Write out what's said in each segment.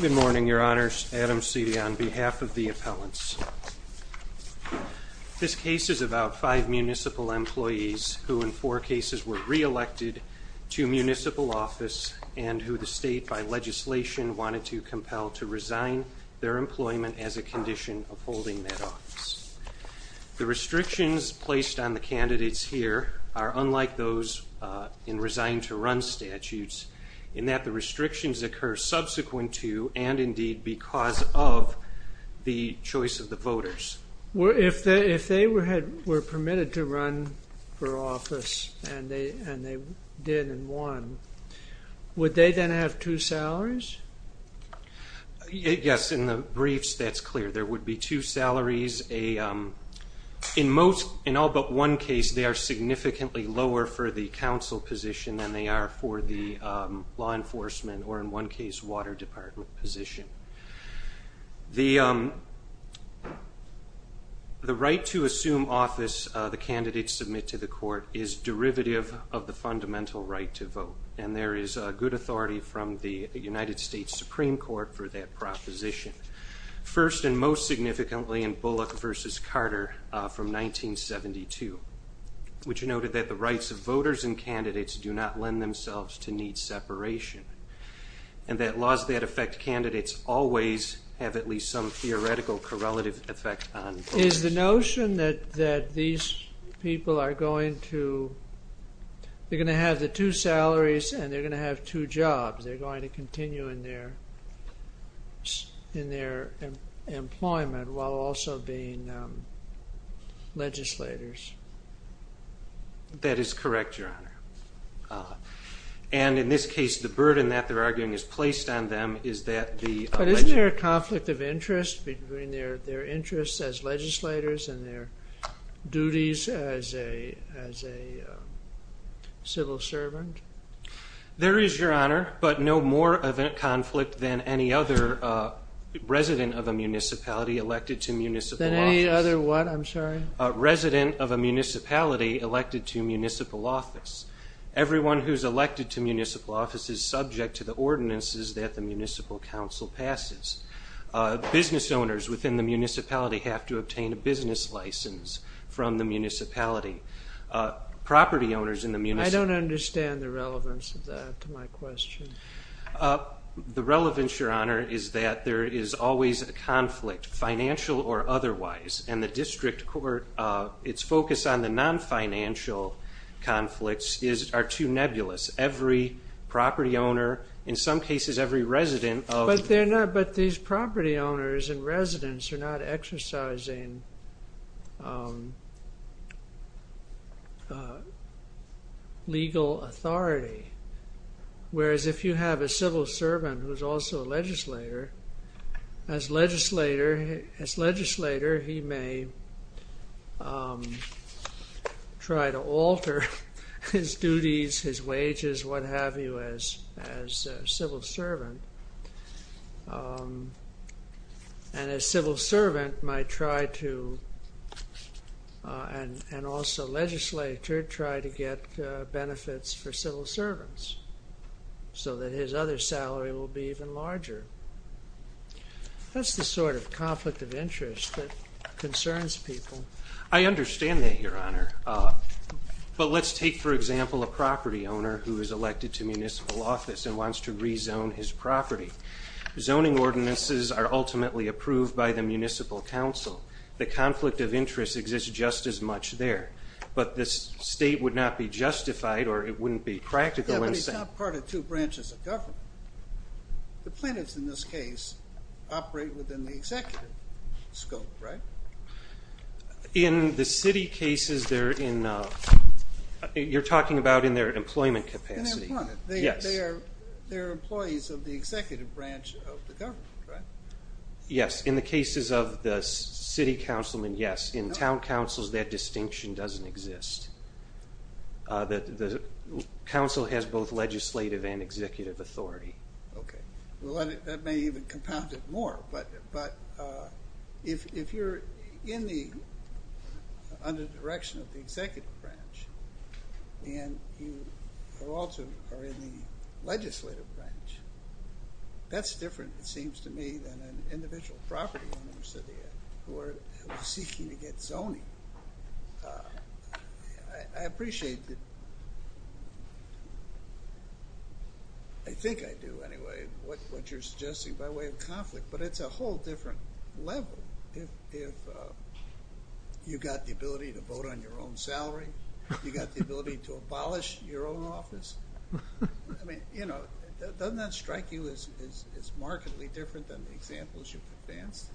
Good morning, your honors. Adam Sidi on behalf of the appellants This case is about five municipal employees who in four cases were reelected to municipal office and who the state by Legislation wanted to compel to resign their employment as a condition of holding that office The restrictions placed on the candidates here are unlike those In resigning to run statutes in that the restrictions occur subsequent to and indeed because of the choice of the voters Well, if they if they were had were permitted to run for office and they and they did and won Would they then have two salaries? Yes in the briefs that's clear there would be two salaries a In most in all but one case they are significantly lower for the council position than they are for the law enforcement or in one case water department position the The right to assume office the candidates submit to the court is Derivative of the fundamental right to vote and there is a good authority from the United States Supreme Court for that proposition First and most significantly in Bullock versus Carter from 1972 which noted that the rights of voters and candidates do not lend themselves to need separation and That laws that affect candidates always have at least some theoretical correlative effect on is the notion that that these people are going to They're going to have the two salaries and they're going to have two jobs. They're going to continue in there It's in their employment while also being Legislators That is correct your honor and in this case the burden that they're arguing is placed on them is that the conflict of interest between their their interests as legislators and their duties as a as a Civil servant There is your honor but no more of a conflict than any other resident of a municipality elected to municipal than any other what I'm sorry a resident of a municipality elected to municipal office Everyone who's elected to municipal office is subject to the ordinances that the Municipal Council passes Business owners within the municipality have to obtain a business license from the municipality Property owners in the municipal. I don't understand the relevance of that to my question The relevance your honor is that there is always a conflict financial or otherwise and the district court It's focused on the non-financial Conflicts is are too nebulous every property owner in some cases every resident Oh, but they're not but these property owners and residents are not exercising A Legal authority whereas if you have a civil servant who's also a legislator as legislator as legislator he may Try to alter his duties his wages what have you as as civil servant And as civil servant might try to And and also legislature try to get benefits for civil servants So that his other salary will be even larger That's the sort of conflict of interest that concerns people. I understand that your honor But let's take for example a property owner who is elected to municipal office and wants to rezone his property Zoning ordinances are ultimately approved by the Municipal Council the conflict of interest exists just as much there But this state would not be justified or it wouldn't be practical and it's not part of two branches of government the plaintiffs in this case operate within the executive scope, right in the city cases there in You're talking about in their employment capacity Yes in the cases of the city councilman, yes in town councils that distinction doesn't exist that the Council has both legislative and executive authority. Okay. Well, that may even compound it more but but if you're in the On the direction of the executive branch and you also are in the legislative branch That's different. It seems to me than an individual property owners of the who are seeking to get zoning I appreciate that I Think I do anyway what what you're suggesting by way of conflict, but it's a whole different level if You got the ability to vote on your own salary. You got the ability to abolish your own office I mean, you know, doesn't that strike you as it's markedly different than the examples you've advanced?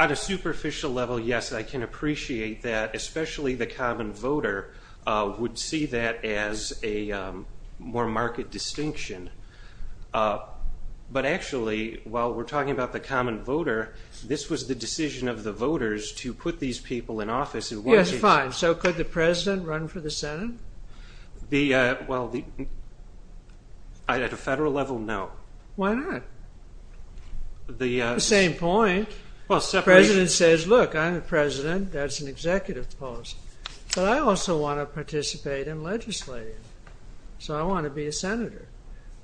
On a superficial level yes, I can appreciate that especially the common voter would see that as a more market distinction Up But actually while we're talking about the common voter This was the decision of the voters to put these people in office. It was fine. So could the president run for the Senate? the well the I'd at a federal level. No, why not? The same point well separate it says look I'm the president. That's an executive policy But I also want to participate in legislating So I want to be a senator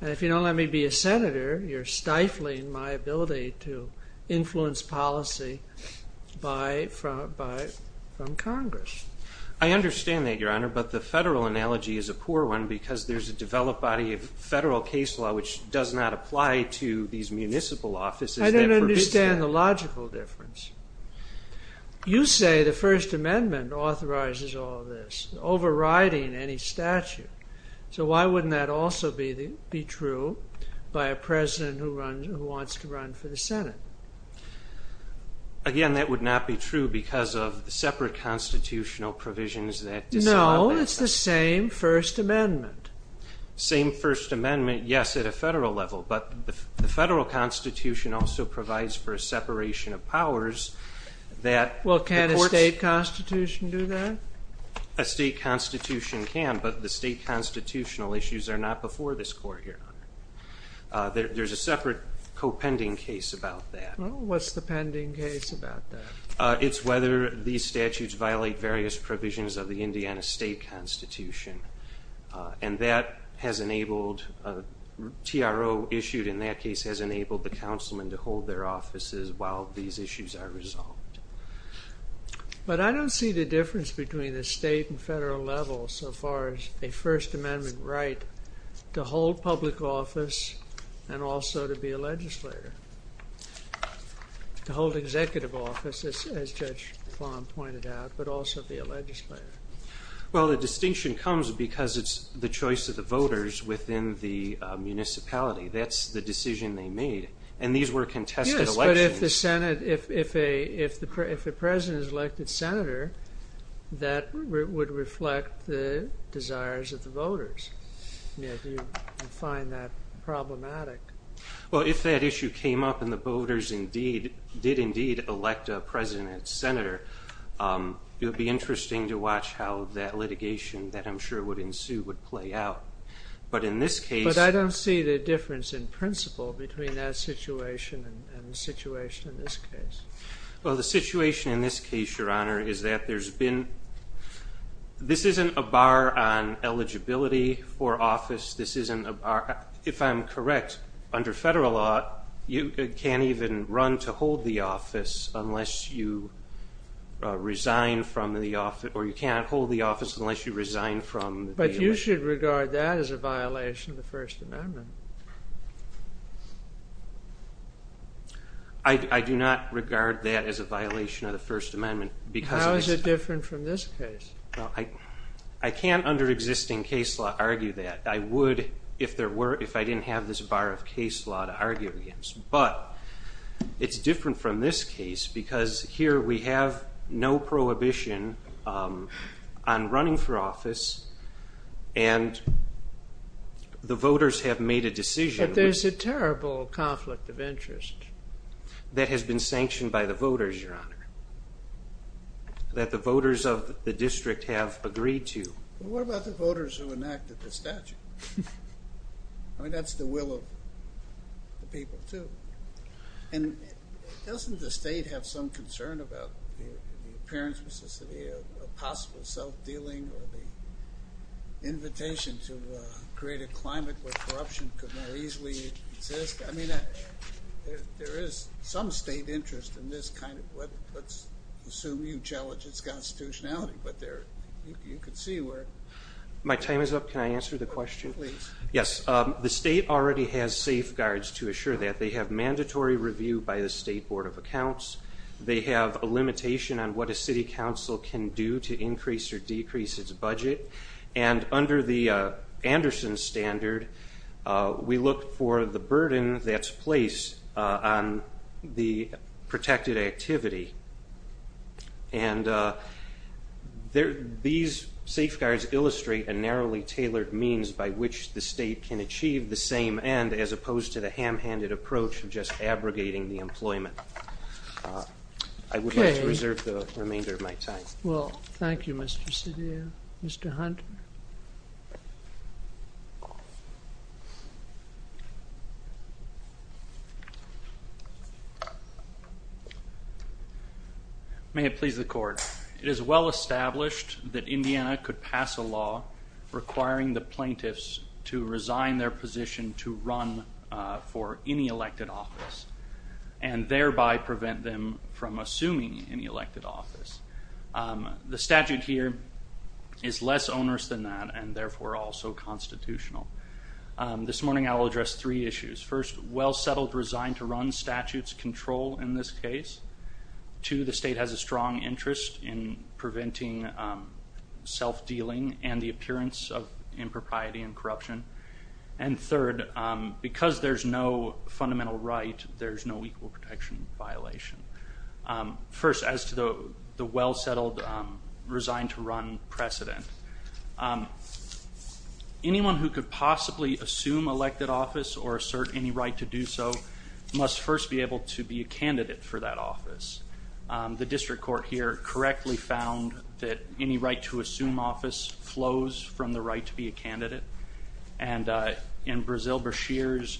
and if you don't let me be a senator you're stifling my ability to influence policy by from by from Congress, I Understand that your honor, but the federal analogy is a poor one because there's a developed body of federal case law Which does not apply to these municipal offices. I don't understand the logical difference You say the First Amendment authorizes all this Overriding any statute So why wouldn't that also be the be true by a president who runs who wants to run for the Senate? Again that would not be true because of the separate constitutional provisions that you know, it's the same First Amendment Same First Amendment. Yes at a federal level, but the federal Constitution also provides for a separation of powers That well can a state constitution do that a state constitution can but the state Constitutional issues are not before this court here There's a separate co-pending case about that. What's the pending case about that? It's whether these statutes violate various provisions of the Indiana state constitution and that has enabled a CRO issued in that case has enabled the councilman to hold their offices while these issues are resolved But I don't see the difference between the state and federal level so far as a First Amendment right to hold public office and also to be a legislator To hold executive offices as Judge Fahm pointed out but also be a legislator well, the distinction comes because it's the choice of the voters within the Municipality that's the decision they made and these were contested elections. Yes, but if the Senate if a if the president is elected senator That would reflect the desires of the voters Find that problematic Well, if that issue came up and the voters indeed did indeed elect a president senator It would be interesting to watch how that litigation that I'm sure would ensue would play out But in this case, but I don't see the difference in principle between that situation and the situation in this case Well the situation in this case your honor. Is that there's been This isn't a bar on Eligibility for office. This isn't a bar if I'm correct under federal law you can't even run to hold the office unless you Resign from the office or you can't hold the office unless you resign from but you should regard that as a violation of the First Amendment I Do not regard that as a violation of the First Amendment because it's different from this case I I can't under existing case law argue that I would if there were if I didn't have this bar of case law to argue against but It's different from this case because here we have no prohibition on running for office and The voters have made a decision, but there's a terrible conflict of interest That has been sanctioned by the voters your honor That the voters of the district have agreed to what about the voters who enacted the statute? I? mean, that's the will of People too and Doesn't the state have some concern about the parents Mississippi a possible self-dealing or the Invitation to create a climate where corruption could more easily exist. I mean There is some state interest in this kind of what let's assume you challenge its constitutionality But there you can see where my time is up. Can I answer the question please? Yes, the state already has safeguards to assure that they have mandatory review by the State Board of Accounts they have a limitation on what a city council can do to increase or decrease its budget and under the Anderson Standard we look for the burden that's placed on the protected activity and There these safeguards illustrate a narrowly tailored means by which the state can achieve the same end as opposed to the ham-handed approach of just abrogating the employment I Would like to reserve the remainder of my time. Well, thank you. Mr. City. Mr. Hunt I May have pleased the court. It is well established that Indiana could pass a law requiring the plaintiffs to resign their position to run for any elected office and Thereby prevent them from assuming any elected office The statute here is less onerous than that and therefore also constitutional This morning, I will address three issues first well settled resigned to run statutes control in this case To the state has a strong interest in preventing Self-dealing and the appearance of impropriety and corruption and third Because there's no fundamental right. There's no equal protection violation First as to the the well-settled resigned to run precedent Anyone who could possibly assume elected office or assert any right to do so Must first be able to be a candidate for that office the district court here correctly found that any right to assume office flows from the right to be a candidate and in Brazil Breshears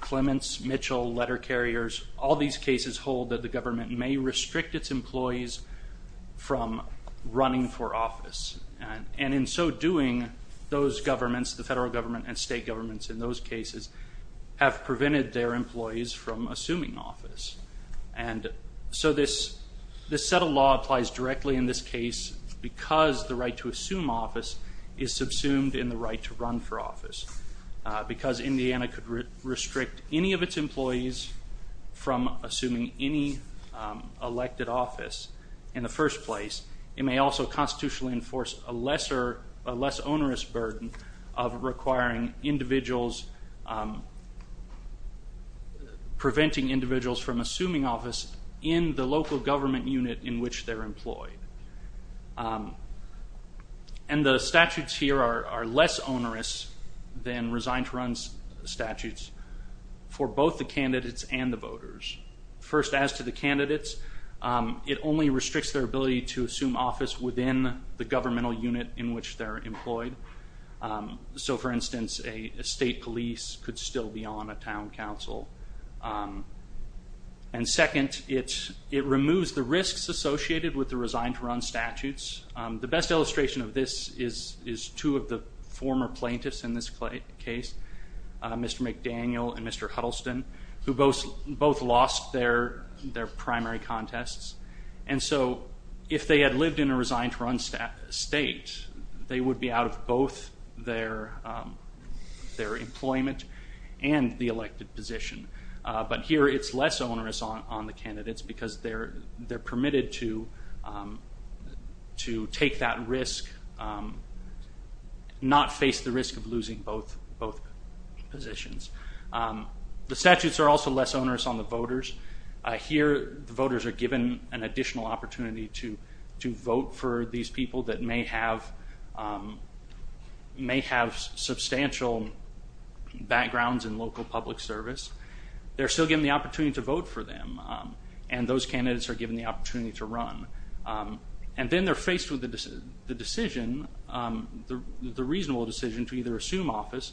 Clements Mitchell letter carriers all these cases hold that the government may restrict its employees from running for office and in so doing those governments the federal government and state governments in those cases have prevented their employees from assuming office and so this this set of law applies directly in this case because the right to assume office is Because Indiana could restrict any of its employees from assuming any elected office in the first place it may also constitutionally enforce a lesser a less onerous burden of requiring individuals Preventing individuals from assuming office in the local government unit in which they're employed and The statutes here are less onerous than resigned to run statutes For both the candidates and the voters first as to the candidates It only restricts their ability to assume office within the governmental unit in which they're employed so for instance a state police could still be on a town council and Second it's it removes the risks associated with the resigned to run statutes The best illustration of this is is two of the former plaintiffs in this case Mr. McDaniel and Mr. Huddleston who both both lost their their primary contests And so if they had lived in a resigned to run stat state they would be out of both their their employment and the elected position But here it's less onerous on on the candidates because they're they're permitted to To take that risk Not face the risk of losing both both positions The statutes are also less onerous on the voters Here the voters are given an additional opportunity to to vote for these people that may have May have substantial Backgrounds in local public service. They're still given the opportunity to vote for them and those candidates are given the opportunity to run And then they're faced with the decision the reasonable decision to either assume office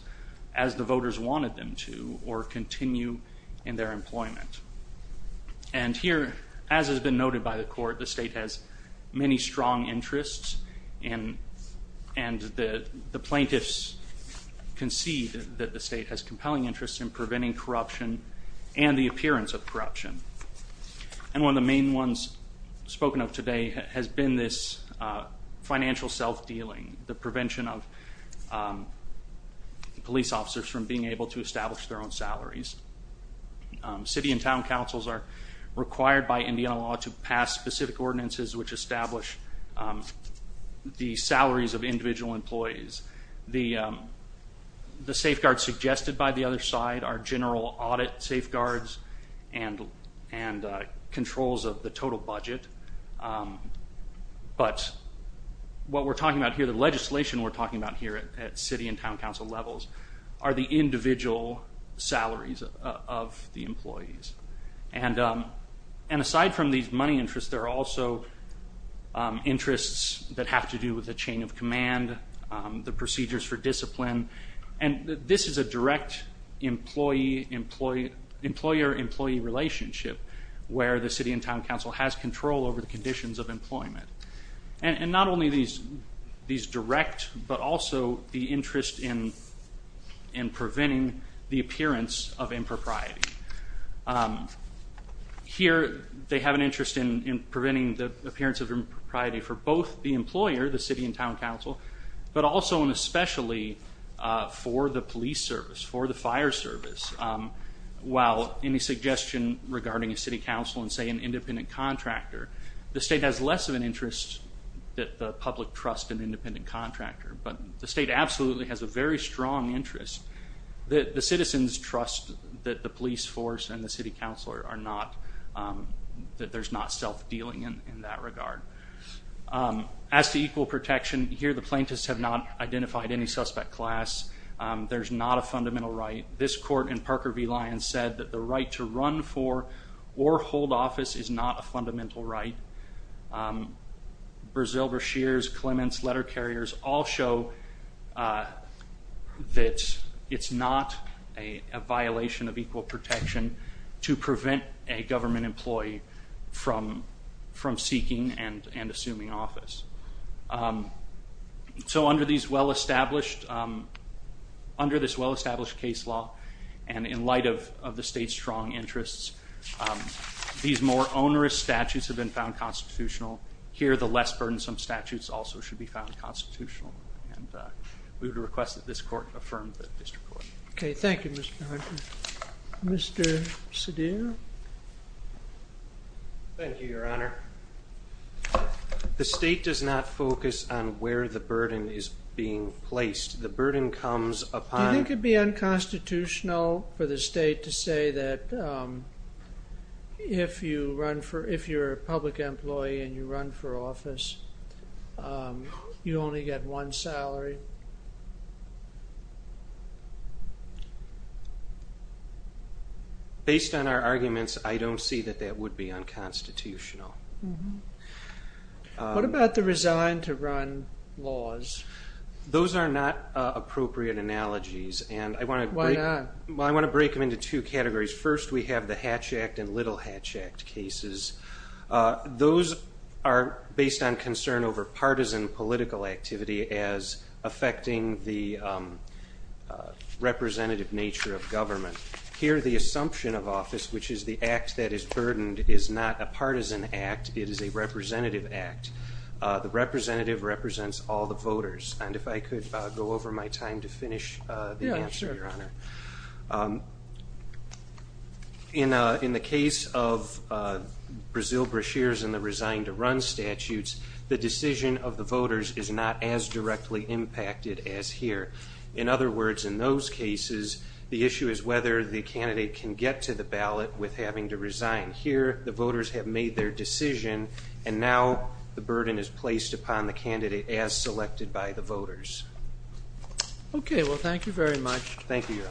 as the voters wanted them to or continue in their employment and Here as has been noted by the court. The state has many strong interests in and the the plaintiffs Concede that the state has compelling interest in preventing corruption and the appearance of corruption And one of the main ones spoken of today has been this financial self-dealing the prevention of Police officers from being able to establish their own salaries City and town councils are required by Indiana law to pass specific ordinances which establish the salaries of individual employees the the safeguards suggested by the other side are general audit safeguards and and controls of the total budget But What we're talking about here the legislation we're talking about here at city and town council levels are the individual salaries of the employees and and aside from these money interests there are also Interests that have to do with the chain of command The procedures for discipline and this is a direct Employee employee employer employee relationship where the city and town council has control over the conditions of employment and not only these these direct, but also the interest in in Preventing the appearance of impropriety Here they have an interest in preventing the appearance of impropriety for both the employer the city and town council but also and especially For the police service for the fire service While any suggestion regarding a city council and say an independent contractor the state has less of an interest That the public trust an independent contractor, but the state absolutely has a very strong interest That the citizens trust that the police force and the city council are not That there's not self-dealing in that regard As to equal protection here the plaintiffs have not identified any suspect class There's not a fundamental right this court in Parker v. Lyons said that the right to run for or hold office is not a fundamental right Brazil Breshears Clements letter carriers all show That it's not a violation of equal protection to prevent a government employee From from seeking and and assuming office So under these well-established Under this well-established case law and in light of the state's strong interests These more onerous statutes have been found constitutional here the less burdensome statutes also should be found constitutional We would request that this court affirmed that district court. Okay. Thank you, Mr. Hunter Mr. Sudhir Thank you, your honor The state does not focus on where the burden is being placed the burden comes upon it could be unconstitutional for the state to say that If you run for if you're a public employee and you run for office You only get one salary Based on our arguments. I don't see that that would be unconstitutional What about the resign to run laws Those are not appropriate analogies and I want to why not? Well, I want to break them into two categories First we have the Hatch Act and little Hatch Act cases those are based on concern over partisan political activity as affecting the Representative nature of government here the assumption of office, which is the act that is burdened is not a partisan act It is a representative act The representative represents all the voters and if I could go over my time to finish In in the case of Brazil brochures and the resign to run statutes the decision of the voters is not as directly impacted as here In other words in those cases The issue is whether the candidate can get to the ballot with having to resign here The voters have made their decision and now the burden is placed upon the candidate as selected by the voters Okay. Well, thank you very much. Thank you